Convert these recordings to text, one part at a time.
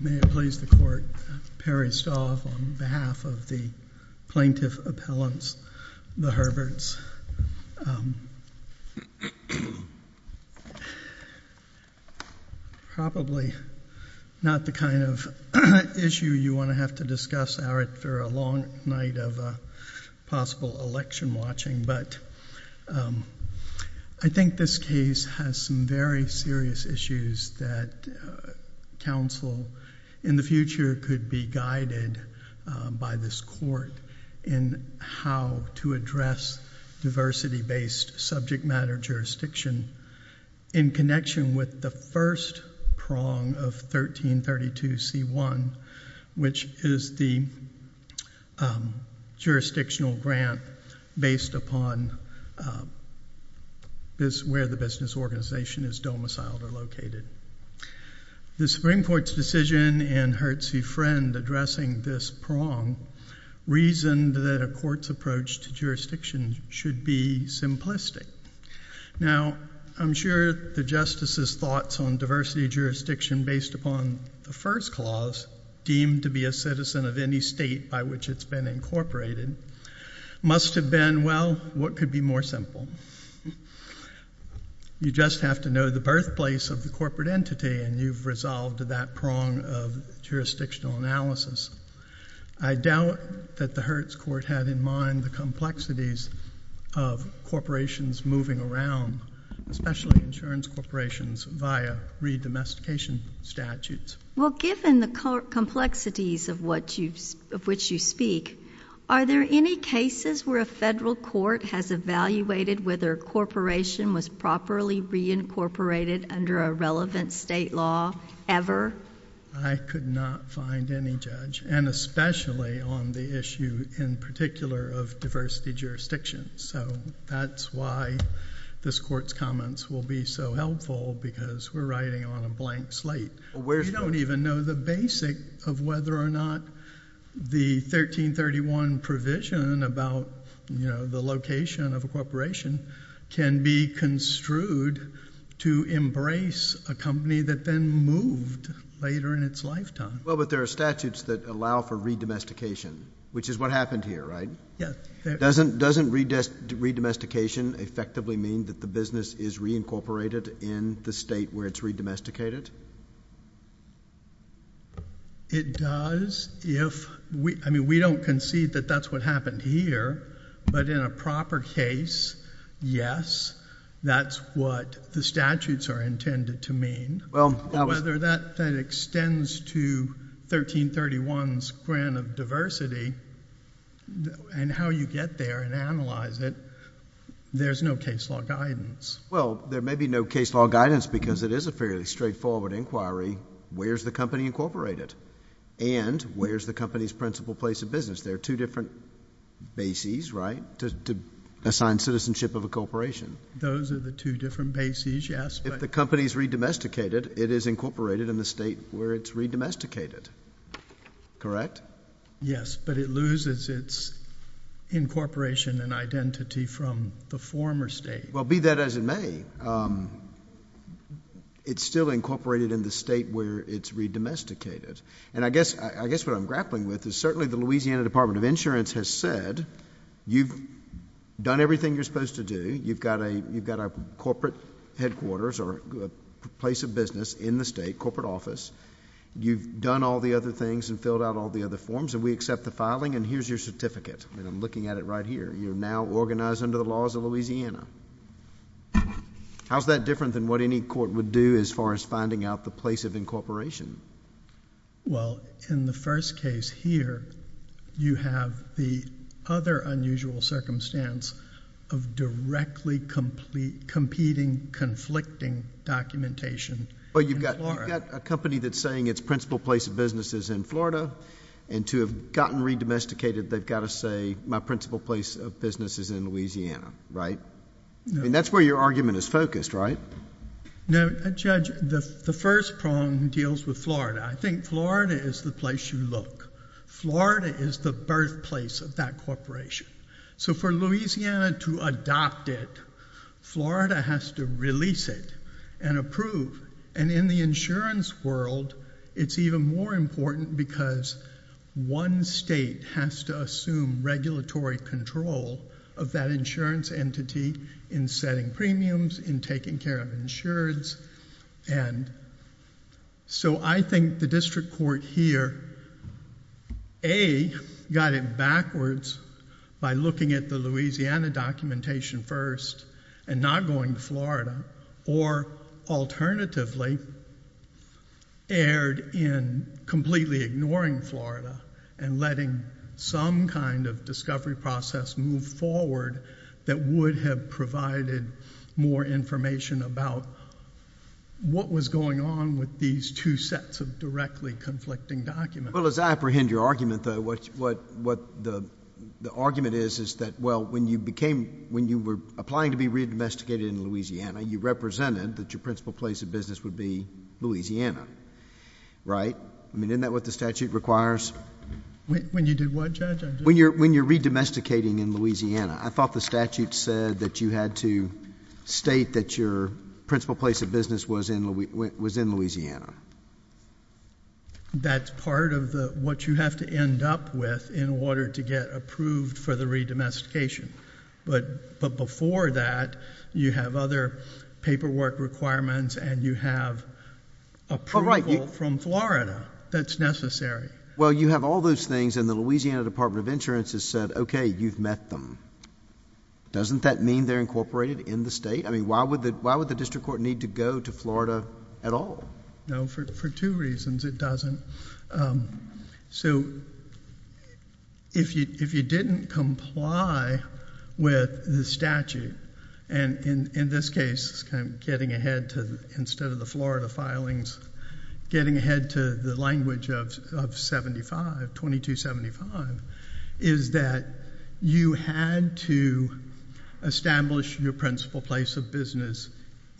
May it please the Court, Perry Stolf on behalf of the Plaintiff Appellants, the Herberts. This is probably not the kind of issue you want to have to discuss for a long night of possible election watching, but I think this case has some very serious issues that counsel in the future could be guided by this Court in how to address diversity-based subject matter jurisdiction in connection with the first prong of 1332C1, which is the jurisdictional grant based upon where the business organization is domiciled or located. The Supreme Court's decision in Hertz v. Friend addressing this prong reasoned that a court's approach to jurisdiction should be simplistic. Now, I'm sure the Justice's thoughts on diversity jurisdiction based upon the first clause, deemed to be a citizen of any state by which it's been incorporated, must have been, well, what could be more simple? You just have to know the birthplace of the corporate entity and you've resolved that prong of jurisdictional analysis. I doubt that the Hertz Court had in mind the complexities of corporations moving around, especially insurance corporations, via re-domestication statutes. Well, given the complexities of which you speak, are there any cases where a Federal Court has evaluated whether a corporation was properly reincorporated under a relevant state law ever? I could not find any, Judge, and especially on the issue in particular of diversity jurisdiction, so that's why this Court's comments will be so helpful because we're writing on a blank slate. You don't even know the basic of whether or not the 1331 provision about, you know, the location of a corporation can be construed to embrace a company that then moved later in its lifetime. Well, but there are statutes that allow for re-domestication, which is what happened here, right? Yes. Doesn't re-domestication effectively mean that the business is reincorporated in the state where it's re-domesticated? It does if... I mean, we don't concede that that's what happened here, but in a proper case, yes, that's what the statutes are intended to mean. Well, that was... But whether that extends to 1331's grant of diversity and how you get there and analyze it, there's no case law guidance. Well, there may be no case law guidance because it is a fairly straightforward inquiry. Where's the company incorporated? And where's the company's principal place of business? There are two different bases, right, to assign citizenship of a corporation. Those are the two different bases, yes, but... If the company's re-domesticated, it is incorporated in the state where it's re-domesticated, correct? Yes, but it loses its incorporation and identity from the former state. Well, be that as it may, it's still incorporated in the state where it's re-domesticated. And I guess what I'm grappling with is certainly the Louisiana Department of Insurance has said you've done everything you're supposed to do. You've got a corporate headquarters or a place of business in the state, corporate office. You've done all the other things and filled out all the other forms, and we accept the filing and here's your certificate, and I'm looking at it right here. You're now organized under the laws of Louisiana. How's that different than what any court would do as far as finding out the place of incorporation? Well, in the first case here, you have the other unusual circumstance of directly competing, conflicting documentation in Florida. You've got a company that's saying its principal place of business is in Florida, and to have gotten re-domesticated, they've got to say my principal place of business is in Louisiana, right? No. And that's where your argument is focused, right? No. Judge, the first prong deals with Florida. I think Florida is the place you look. Florida is the birthplace of that corporation. So for Louisiana to adopt it, Florida has to release it and approve. And in the insurance world, it's even more important because one state has to assume regulatory control of that insurance entity in setting premiums, in taking care of insurance. So I think the district court here, A, got it backwards by looking at the Louisiana documentation first and not going to Florida, or alternatively, erred in completely ignoring Florida and letting some kind of discovery process move forward that would have provided more information about what was going on with these two sets of directly conflicting documents. Well, as I apprehend your argument, though, what the argument is is that, well, when you were applying to be re-domesticated in Louisiana, you represented that your principal place of business would be Louisiana, right? I mean, isn't that what the statute requires? When you did what, Judge? When you're re-domesticating in Louisiana, I thought the statute said that you had to state that your principal place of business was in Louisiana. That's part of what you have to end up with in order to get approved for the re-domestication. But before that, you have other paperwork requirements, and you have approval from Florida that's necessary. Well, you have all those things, and the Louisiana Department of Insurance has said, okay, you've met them. Doesn't that mean they're incorporated in the state? I mean, why would the district court need to go to Florida at all? No, for two reasons it doesn't. So, if you didn't comply with the statute, and in this case, instead of the Florida filings, getting ahead to the language of 2275, is that you had to establish your principal place of business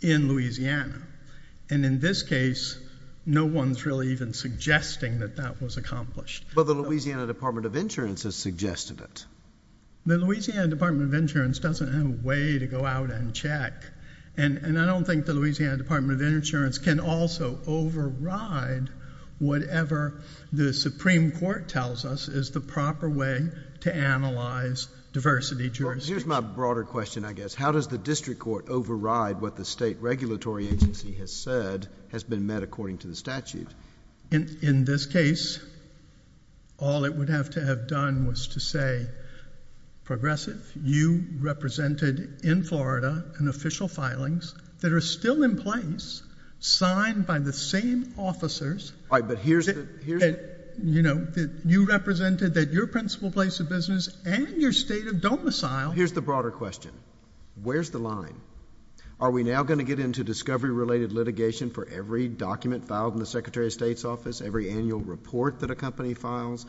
in Louisiana. And in this case, no one's really even suggesting that that was accomplished. But the Louisiana Department of Insurance has suggested it. The Louisiana Department of Insurance doesn't have a way to go out and check, and I don't think the Louisiana Department of Insurance can also override whatever the Supreme Court tells us is the proper way to analyze diversity jurisdictions. Well, here's my broader question, I guess. How does the district court override what the state regulatory agency has said has been met according to the statute? In this case, all it would have to have done was to say, Progressive, you represented, in Florida, an official filings that are still in place, signed by the same officers... All right, but here's the... You represented that your principal place of business and your state of domicile... Here's the broader question. Where's the line? Are we now going to get into discovery-related litigation for every document filed in the Secretary of State's office, every annual report that a company files,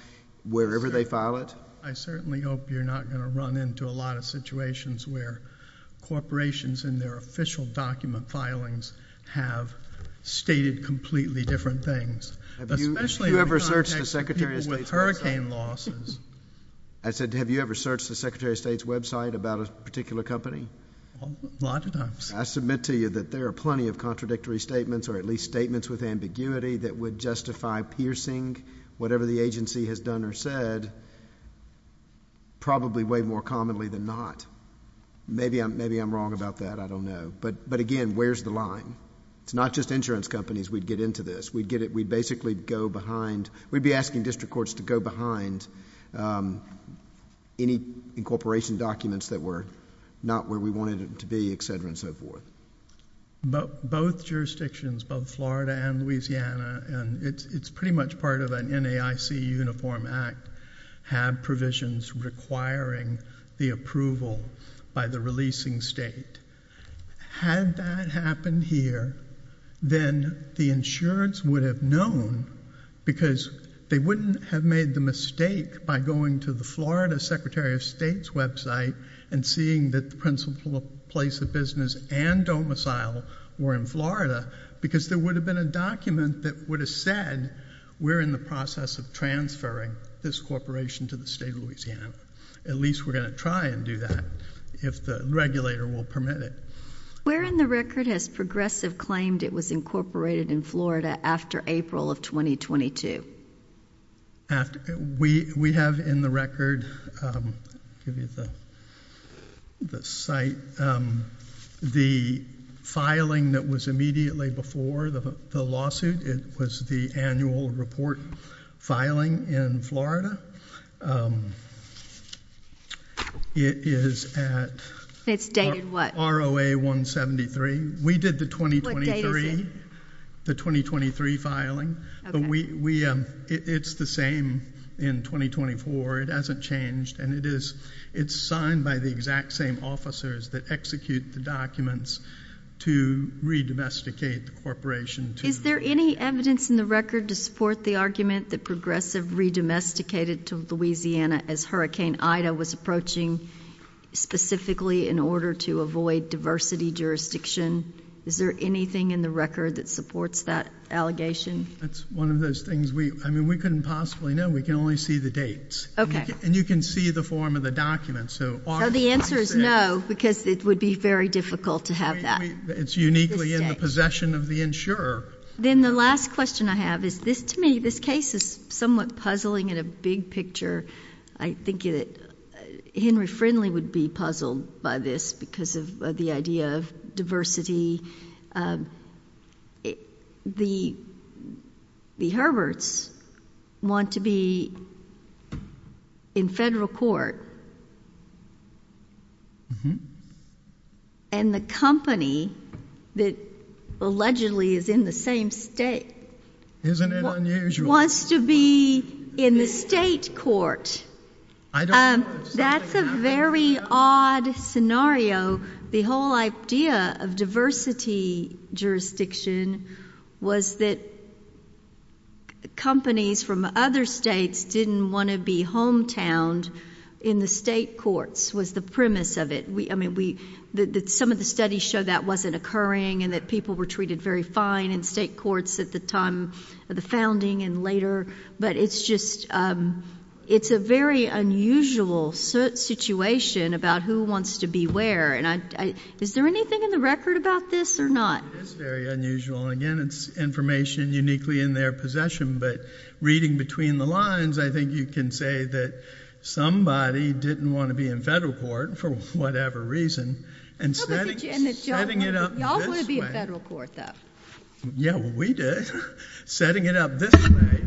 wherever they file it? I certainly hope you're not going to run into a lot of situations where corporations in their official document filings have stated completely different things, especially in the context of people with hurricane losses. I said, have you ever searched the Secretary of State's website about a particular company? A lot of times. I submit to you that there are plenty of contradictory statements, or at least statements with ambiguity that would justify piercing whatever the agency has done or said, probably way more commonly than not. Maybe I'm wrong about that, I don't know. But again, where's the line? It's not just insurance companies we'd get into this. We'd basically go behind... we'd be asking district courts to go behind any incorporation documents that were not where we wanted it to be, et cetera, and so forth. Both jurisdictions, both Florida and Louisiana, and it's pretty much part of an NAIC uniform act, have provisions requiring the approval by the releasing state. Had that happened here, then the insurance would have known, because they wouldn't have made the mistake by going to the Florida Secretary of State's website and seeing that the principal place of business and domicile were in Florida, because there would have been a document that would have said, we're in the process of transferring this corporation to the state of Louisiana. At least we're going to try and do that, if the regulator will permit it. Where in the record has Progressive claimed it was incorporated in Florida after April of 2022? We have in the record, I'll give you the site, the filing that was immediately before the lawsuit. It was the annual report filing in Florida. It is at... It's dated what? ROA 173. We did the 2023... What date is it? The 2023 filing. It's the same in 2024. It hasn't changed, and it's signed by the exact same officers that execute the documents to re-domesticate the corporation to the... Is there any evidence in the record to support the argument that Progressive re-domesticated to Louisiana as Hurricane Ida was approaching, specifically in order to avoid diversity jurisdiction? Is there anything in the record that supports that allegation? That's one of those things we... I mean, we couldn't possibly know. We can only see the dates, and you can see the form of the documents. The answer is no, because it would be very difficult to have that. It's uniquely in the possession of the insurer. Then the last question I have is, to me, this case is somewhat puzzling in a big picture. I think that Henry Friendly would be puzzled by this because of the idea of diversity. The Herberts want to be in federal court, and the company that allegedly is in the same state... Isn't it unusual?... wants to be in the state court. I don't... That's a very odd scenario. The whole idea of diversity jurisdiction was that companies from other states didn't want to be hometowned in the state courts, was the premise of it. I mean, some of the studies show that wasn't occurring, and that people were treated very fine in state courts at the time of the founding and later. But it's just... it's a very unusual situation about who wants to be where, and is there anything in the record about this or not? It is very unusual, and again, it's information uniquely in their possession. But reading between the lines, I think you can say that somebody didn't want to be in federal court for whatever reason, and setting it up this way... No, but did you and the gentleman...... setting it up this way...... y'all want to be in federal court, though. Yeah, well, we did. Setting it up this way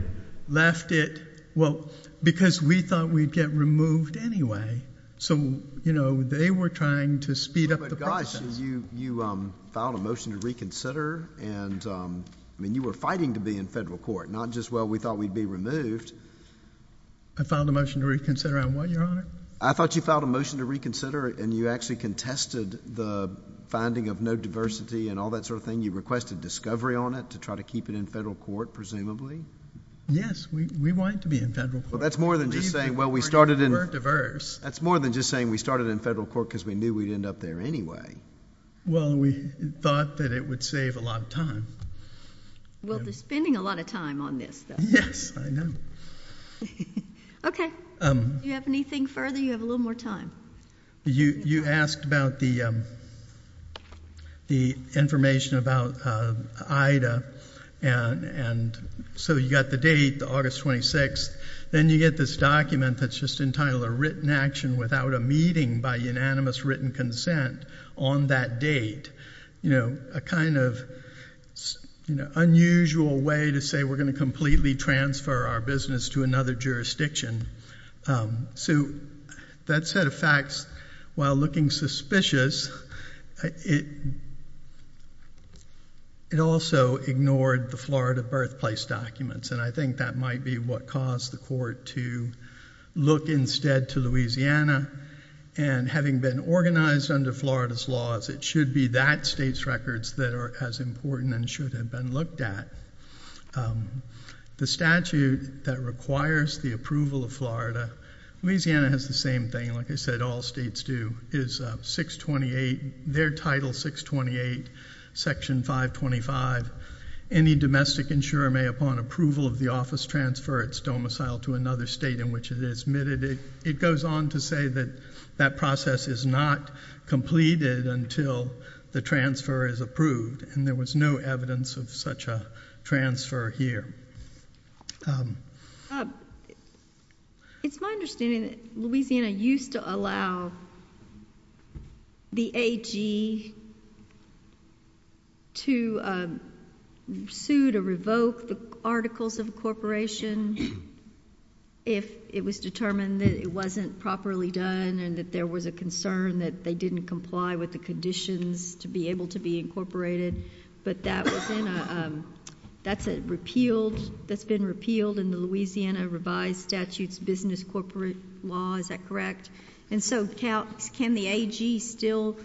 left it... well, because we thought we'd get removed anyway. So, you know, they were trying to speed up the process. No, but gosh, you filed a motion to reconsider, and I mean, you were fighting to be in federal court, not just, well, we thought we'd be removed. I filed a motion to reconsider on what, Your Honor? I thought you filed a motion to reconsider, and you actually contested the finding of no diversity and all that sort of thing. You requested discovery on it, to try to keep it in federal court, presumably? Yes, we wanted to be in federal court. Well, that's more than just saying, well, we started in... We were diverse. That's more than just saying we started in federal court, because we knew we'd end up there anyway. Well, we thought that it would save a lot of time. Well, they're spending a lot of time on this, though. Yes, I know. Okay. Do you have anything further? You have a little more time. You asked about the information about Ida, and so you got the date, August 26th. Then you get this document that's just entitled a written action without a meeting by unanimous written consent on that date. A kind of unusual way to say we're going to completely transfer our business to another jurisdiction. That set of facts, while looking suspicious, it also ignored the Florida birthplace documents. I think that might be what caused the court to look instead to Louisiana, and having been organized under Florida's laws, it should be that state's records that are as important and should have been looked at. The statute that requires the approval of Florida, Louisiana has the same thing, like I said, all states do, is 628, their title 628, section 525. Any domestic insurer may, upon approval of the office, transfer its domicile to another state in which it is admitted. It goes on to say that that process is not completed until the transfer is approved. And there was no evidence of such a transfer here. It's my understanding that Louisiana used to allow the AG to sue to revoke the articles of a corporation if it was determined that it wasn't properly done and that there was a concern that they didn't comply with the conditions to be able to be incorporated. But that's been repealed in the Louisiana revised statutes business corporate law, is that correct? And so can the AG still,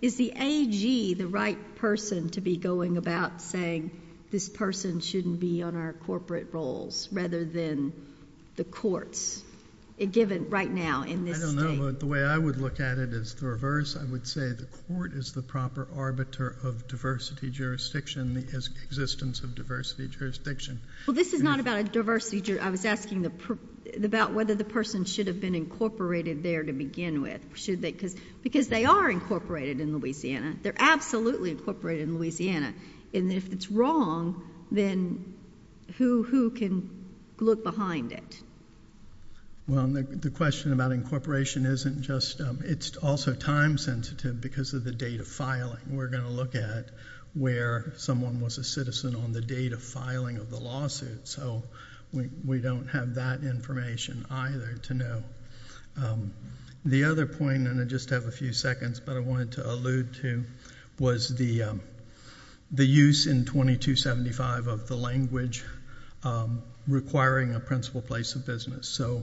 is the AG the right person to be going about saying this person shouldn't be on our corporate roles rather than the courts, given right now in this state? I don't know, but the way I would look at it is the reverse. I would say the court is the proper arbiter of diversity jurisdiction, the existence of diversity jurisdiction. Well, this is not about a diversity, I was asking about whether the person should have been incorporated there to begin with. Should they, because they are incorporated in Louisiana. They're absolutely incorporated in Louisiana. And if it's wrong, then who can look behind it? Well, the question about incorporation isn't just, it's also time sensitive because of the date of filing. We're going to look at where someone was a citizen on the date of filing of the lawsuit. So we don't have that information either to know. The other point, and I just have a few seconds, but I wanted to allude to, was the use in 2275 of the language requiring a principal place of business. So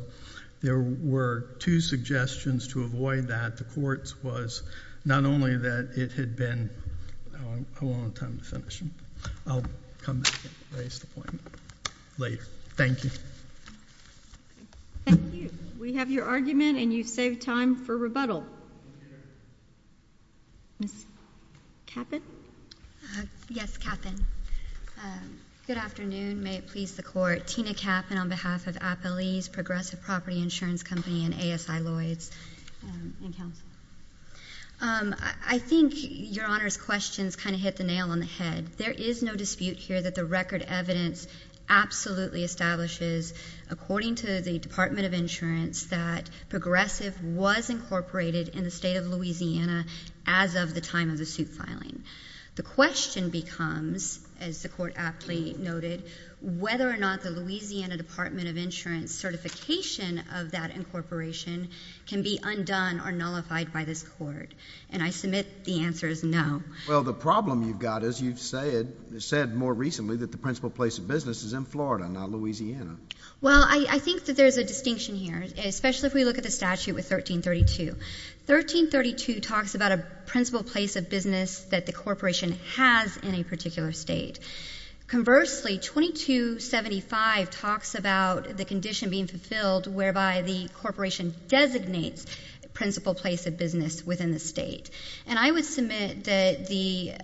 there were two suggestions to avoid that. The court's was not only that it had been, I won't have time to finish. I'll come back and raise the point later. Thank you. We have your argument and you've saved time for rebuttal. Ms. Cappen? Yes, Cappen. Good afternoon, may it please the court. Tina Cappen on behalf of Appalee's Progressive Property Insurance Company and ASI Lloyds and Council. I think your Honor's questions kind of hit the nail on the head. There is no dispute here that the record evidence absolutely establishes, according to the Department of Insurance, that Progressive was incorporated in the state of Louisiana as of the time of the suit filing. The question becomes, as the court aptly noted, whether or not the Louisiana Department of Insurance certification of that incorporation can be undone or nullified by this court. And I submit the answer is no. Well, the problem you've got is you've said more recently that the principal place of business is in Florida, not Louisiana. Well, I think that there's a distinction here, especially if we look at the statute with 1332. 1332 talks about a principal place of business that the corporation has in a particular state. Conversely, 2275 talks about the condition being fulfilled whereby the corporation designates principal place of business within the state. And I would submit that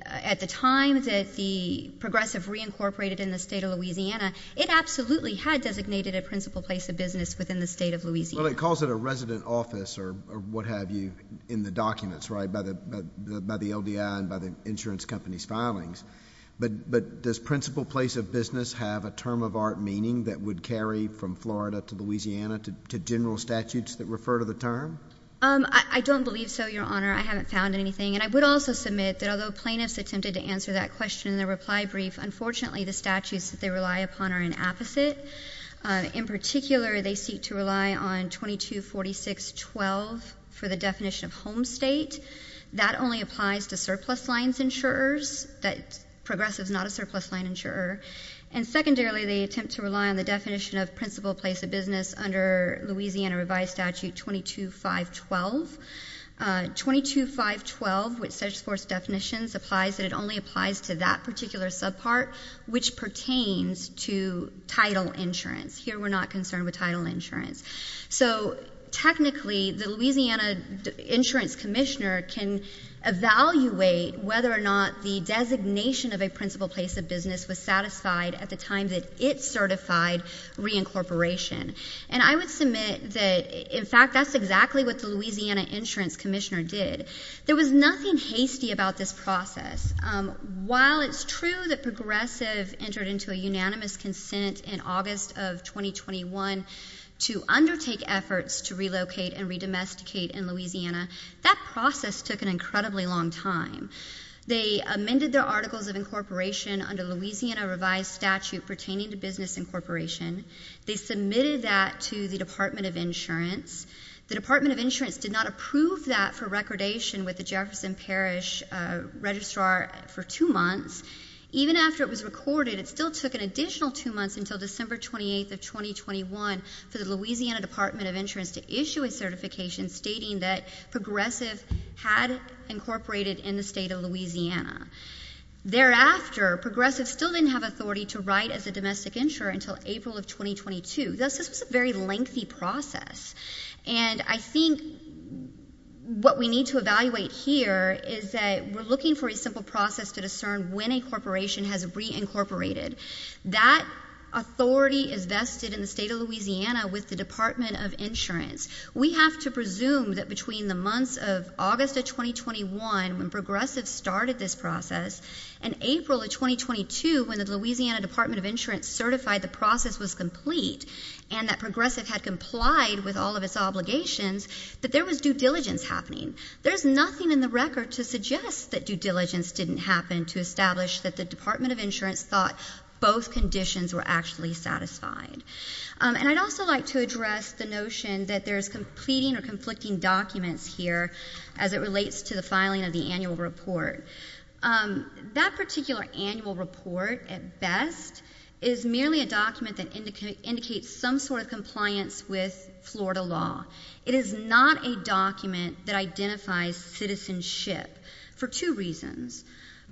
at the time that the Progressive reincorporated in the state of Louisiana, it absolutely had designated a principal place of business within the state of Louisiana. Well, it calls it a resident office or what have you in the documents, right, by the LDI and by the insurance company's filings. But does principal place of business have a term of art meaning that would carry from Florida to Louisiana to general statutes that refer to the term? I don't believe so, Your Honor. I haven't found anything. And I would also submit that although plaintiffs attempted to answer that question in their reply brief, unfortunately, the statutes that they rely upon are an opposite. In particular, they seek to rely on 2246.12 for the definition of home state. That only applies to surplus lines insurers, that Progressive's not a surplus line insurer. And secondarily, they attempt to rely on the definition of principal place of business under Louisiana revised statute 22512. 22512, which sets forth definitions, applies that it only applies to that particular subpart, which pertains to title insurance. Here we're not concerned with title insurance. So technically, the Louisiana Insurance Commissioner can evaluate whether or not the designation of a principal place of business was satisfied at the time that it certified reincorporation. And I would submit that, in fact, that's exactly what the Louisiana Insurance Commissioner did. There was nothing hasty about this process. While it's true that Progressive entered into a unanimous consent in August of 2021 to undertake efforts to relocate and re-domesticate in Louisiana, that process took an incredibly long time. They amended their articles of incorporation under Louisiana revised statute pertaining to business incorporation. They submitted that to the Department of Insurance. The Department of Insurance did not approve that for recordation with the Jefferson Parish Registrar for two months. Even after it was recorded, it still took an additional two months until December 28th of 2021 for the Louisiana Department of Insurance to issue a certification stating that Progressive had incorporated in the state of Louisiana. Thereafter, Progressive still didn't have authority to write as a domestic insurer until April of 2022. Thus, this was a very lengthy process. And I think what we need to evaluate here is that we're looking for a simple process to discern when a corporation has reincorporated. That authority is vested in the state of Louisiana with the Department of Insurance. We have to presume that between the months of August of 2021, when Progressive started this process, and April of 2022, when the Louisiana Department of Insurance certified the process was complete, and that Progressive had complied with all of its obligations, that there was due diligence happening. There's nothing in the record to suggest that due diligence didn't happen to establish that the Department of Insurance thought both conditions were actually satisfied. And I'd also like to address the notion that there's completing or conflicting documents here as it relates to the filing of the annual report. That particular annual report, at best, is merely a document that indicates some sort of compliance with Florida law. It is not a document that identifies citizenship for two reasons.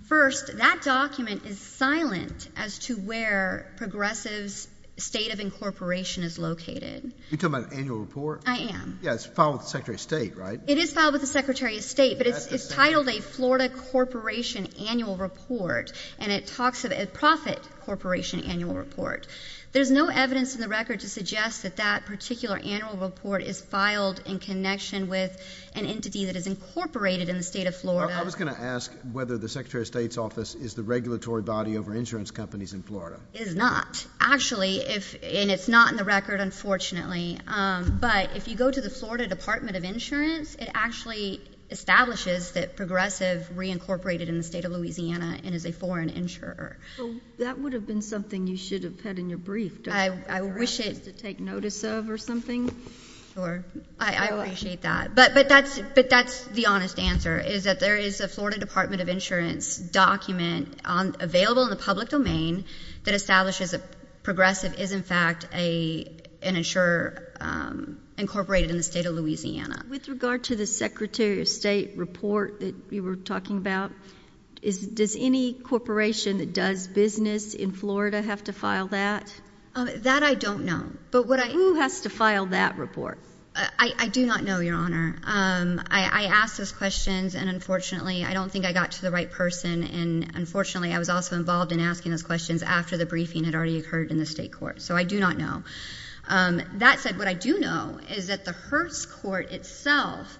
First, that document is silent as to where Progressive's state of incorporation is located. You're talking about an annual report? I am. Yeah, it's filed with the Secretary of State, right? It is filed with the Secretary of State, but it's titled a Florida Corporation Annual Report. And it talks of a profit corporation annual report. There's no evidence in the record to suggest that that particular annual report is filed in connection with an entity that is incorporated in the state of Florida. I was going to ask whether the Secretary of State's office is the regulatory body over insurance companies in Florida. It is not. Actually, and it's not in the record, unfortunately. But if you go to the Florida Department of Insurance, it actually establishes that Progressive reincorporated in the state of Louisiana and is a foreign insurer. That would have been something you should have had in your brief, don't you? I wish it- For us to take notice of or something? Sure, I appreciate that. But that's the honest answer, is that there is a Florida Department of Insurance document available in the public domain that establishes that Progressive is, in fact, an insurer incorporated in the state of Louisiana. With regard to the Secretary of State report that you were talking about, does any corporation that does business in Florida have to file that? That I don't know. But what I- Who has to file that report? I do not know, Your Honor. I asked those questions, and unfortunately, I don't think I got to the right person. And unfortunately, I was also involved in asking those questions after the briefing had already occurred in the state court. So I do not know. That said, what I do know is that the Hertz Court itself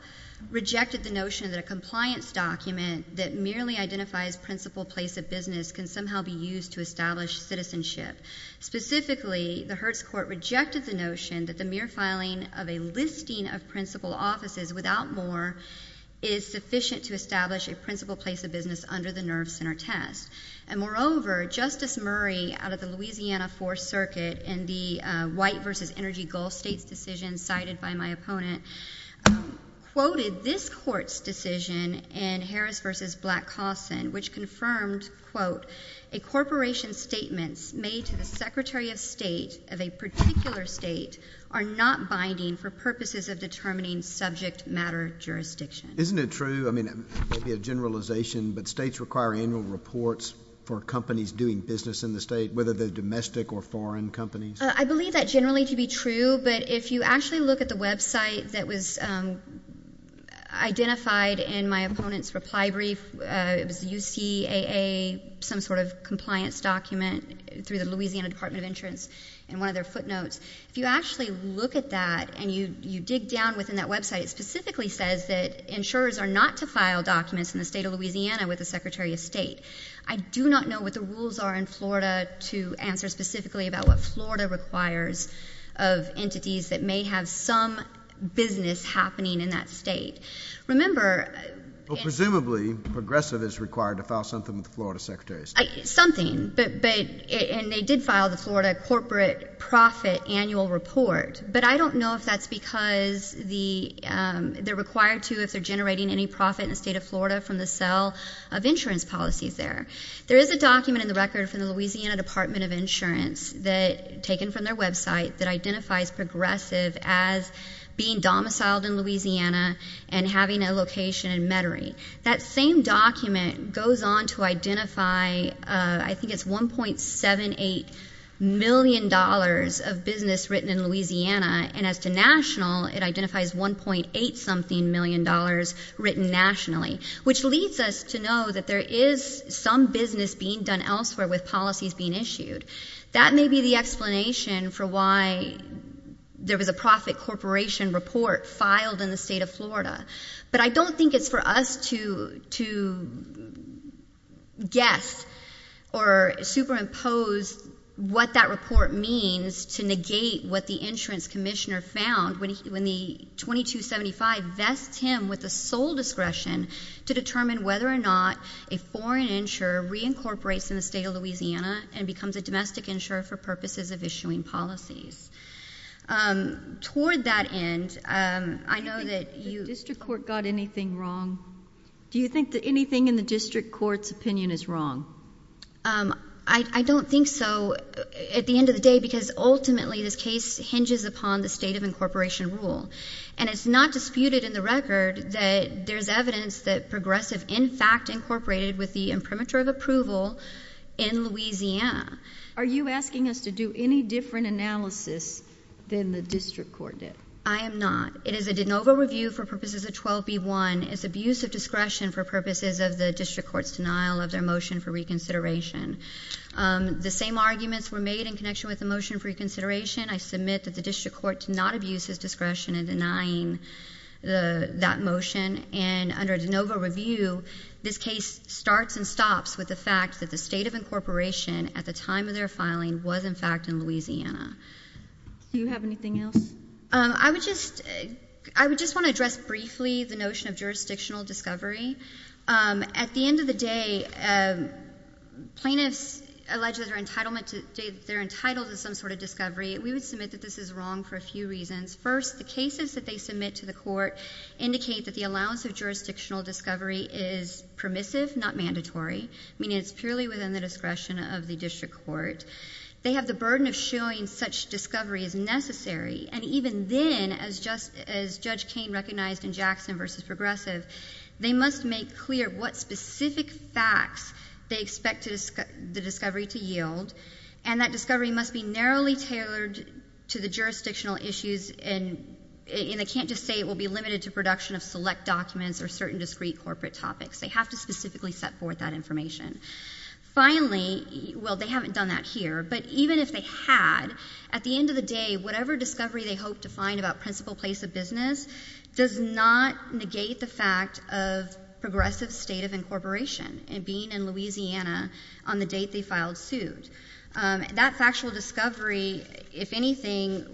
rejected the notion that a compliance document that merely identifies principal place of business can somehow be used to establish citizenship. Specifically, the Hertz Court rejected the notion that the mere filing of a listing of principal offices without more is sufficient to establish a principal place of business under the Nerve Center Test. And moreover, Justice Murray, out of the Louisiana Fourth Circuit, in the White versus Energy Gulf States decision cited by my opponent, quoted this court's decision in Harris versus Black-Cawson, which confirmed, quote, a corporation's statements made to the secretary of state of a particular state are not binding for purposes of determining subject matter jurisdiction. Isn't it true? I mean, maybe a generalization, but states require annual reports for companies doing business in the state, whether they're domestic or foreign companies. I believe that generally to be true, but if you actually look at the website that was identified in my opponent's reply brief, it was the UCAA, some sort of compliance document through the Louisiana Department of Insurance, and one of their footnotes. If you actually look at that and you dig down within that website, it specifically says that insurers are not to file documents in the state of Louisiana with the secretary of state. I do not know what the rules are in Florida to answer specifically about what Florida requires of entities that may have some business happening in that state. Remember- Presumably, Progressive is required to file something with the Florida Secretary of State. Something, and they did file the Florida corporate profit annual report, but I don't know if that's because they're required to if they're generating any profit in the state of Florida from the sale of insurance policies there. There is a document in the record from the Louisiana Department of Insurance that, taken from their website, that identifies Progressive as being domiciled in Louisiana and having a location in Metairie. That same document goes on to identify, I think it's $1.78 million of business written in Louisiana, and as to national, it identifies $1.8 something million written nationally. Which leads us to know that there is some business being done elsewhere with policies being issued. That may be the explanation for why there was a profit corporation report filed in the state of Florida. But I don't think it's for us to guess or superimpose what that report means to negate what the insurance commissioner found when the 2275 vests him with the sole discretion to determine whether or not a foreign insurer reincorporates in the state of Louisiana and becomes a domestic insurer for purposes of issuing policies. Toward that end, I know that you- The district court got anything wrong? Do you think that anything in the district court's opinion is wrong? I don't think so at the end of the day because ultimately this case hinges upon the state of incorporation rule. And it's not disputed in the record that there's evidence that Progressive in fact incorporated with the imprimatur of approval in Louisiana. Are you asking us to do any different analysis than the district court did? I am not. It is a de novo review for purposes of 12B1. It's abuse of discretion for purposes of the district court's denial of their motion for reconsideration. The same arguments were made in connection with the motion for reconsideration. I submit that the district court did not abuse his discretion in denying that motion. And under a de novo review, this case starts and stops with the fact that the state of incorporation at the time of their filing was in fact in Louisiana. Do you have anything else? I would just want to address briefly the notion of jurisdictional discovery. At the end of the day, plaintiffs allege that they're entitled to some sort of discovery. We would submit that this is wrong for a few reasons. First, the cases that they submit to the court indicate that the allowance of jurisdictional discovery is permissive, not mandatory. Meaning it's purely within the discretion of the district court. They have the burden of showing such discovery as necessary. And even then, as Judge Kane recognized in Jackson versus Progressive, they must make clear what specific facts they expect the discovery to yield. And that discovery must be narrowly tailored to the jurisdictional issues. And they can't just say it will be limited to production of select documents or certain discrete corporate topics. They have to specifically set forth that information. Finally, well, they haven't done that here. But even if they had, at the end of the day, whatever discovery they hope to find about principal place of business does not negate the fact of progressive state of incorporation and being in Louisiana on the date they filed suit. That factual discovery, if anything,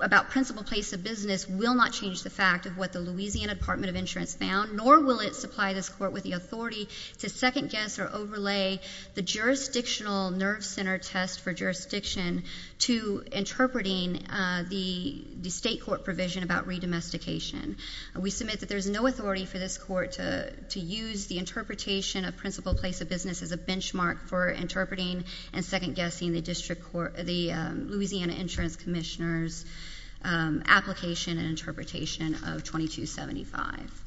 about principal place of business will not change the fact of what the Louisiana Department of Insurance found. Nor will it supply this court with the authority to second guess or overlay the jurisdictional nerve center test for jurisdiction to interpreting the state court provision about re-domestication. We submit that there's no authority for this court to use the interpretation of principal place of business as a benchmark for interpreting and second guessing the Louisiana Insurance Commissioner's application and interpretation of 2275.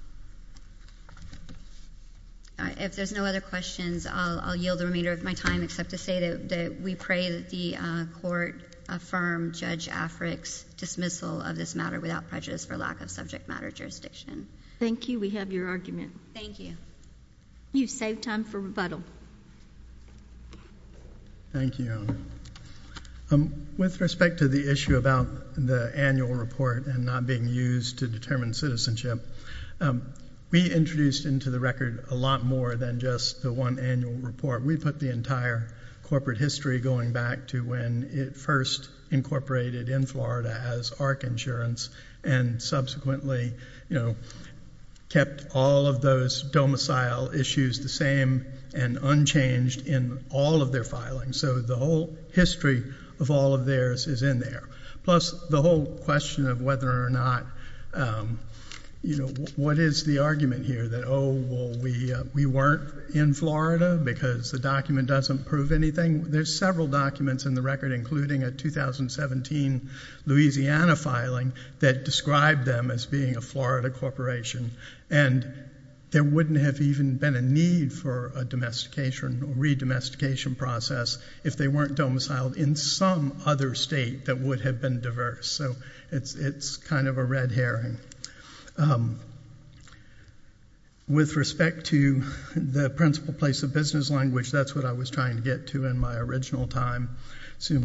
All right, if there's no other questions, I'll yield the remainder of my time, except to say that we pray that the court affirm Judge Africk's dismissal of this matter without prejudice for lack of subject matter jurisdiction. Thank you, we have your argument. Thank you. You've saved time for rebuttal. Thank you. With respect to the issue about the annual report and not being used to determine citizenship, we introduced into the record a lot more than just the one annual report. We put the entire corporate history going back to when it first incorporated in Florida as Arc Insurance. And subsequently kept all of those domicile issues the same and unchanged in all of their filings. So the whole history of all of theirs is in there. Plus, the whole question of whether or not, what is the argument here? That, well, we weren't in Florida because the document doesn't prove anything. There's several documents in the record, including a 2017 Louisiana filing that described them as being a Florida corporation. And there wouldn't have even been a need for a domestication or a redomestication process if they weren't domiciled in some other state that would have been diverse. So it's kind of a red herring. With respect to the principle place of business language, that's what I was trying to get to in my original time. So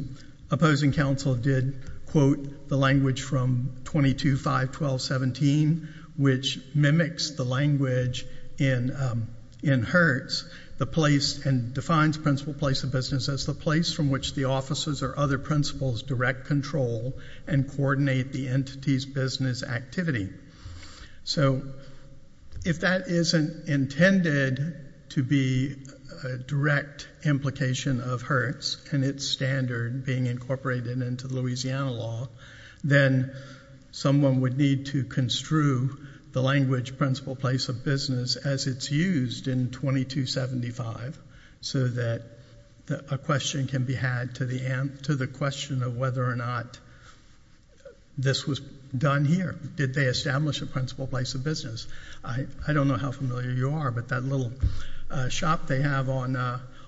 opposing council did quote the language from 22-5-12-17, which mimics the language in Hertz. The place and defines principle place of business as the place from which the officers or other principles direct control and coordinate the entity's business activity. So if that isn't intended to be a direct implication of Hertz and its standard being incorporated into Louisiana law, then someone would need to construe the language principle place of business as it's used in 22-5-12-17. So that a question can be had to the question of whether or not this was done here. Did they establish a principle place of business? I don't know how familiar you are, but that little shop they have on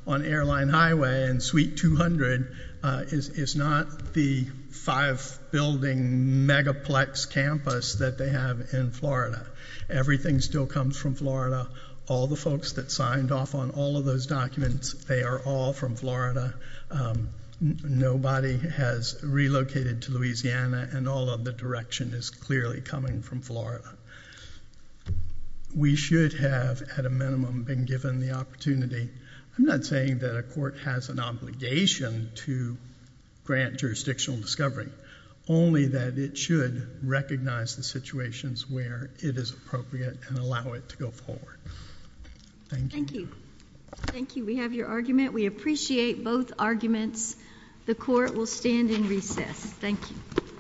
Airline Highway and Suite 200 is not the five building megaplex campus that they have in Florida. Everything still comes from Florida. All the folks that signed off on all of those documents, they are all from Florida. Nobody has relocated to Louisiana, and all of the direction is clearly coming from Florida. We should have, at a minimum, been given the opportunity. I'm not saying that a court has an obligation to grant jurisdictional discovery. Only that it should recognize the situations where it is appropriate and allow it to go forward. Thank you. Thank you. We have your argument. We appreciate both arguments. The court will stand in recess. Thank you.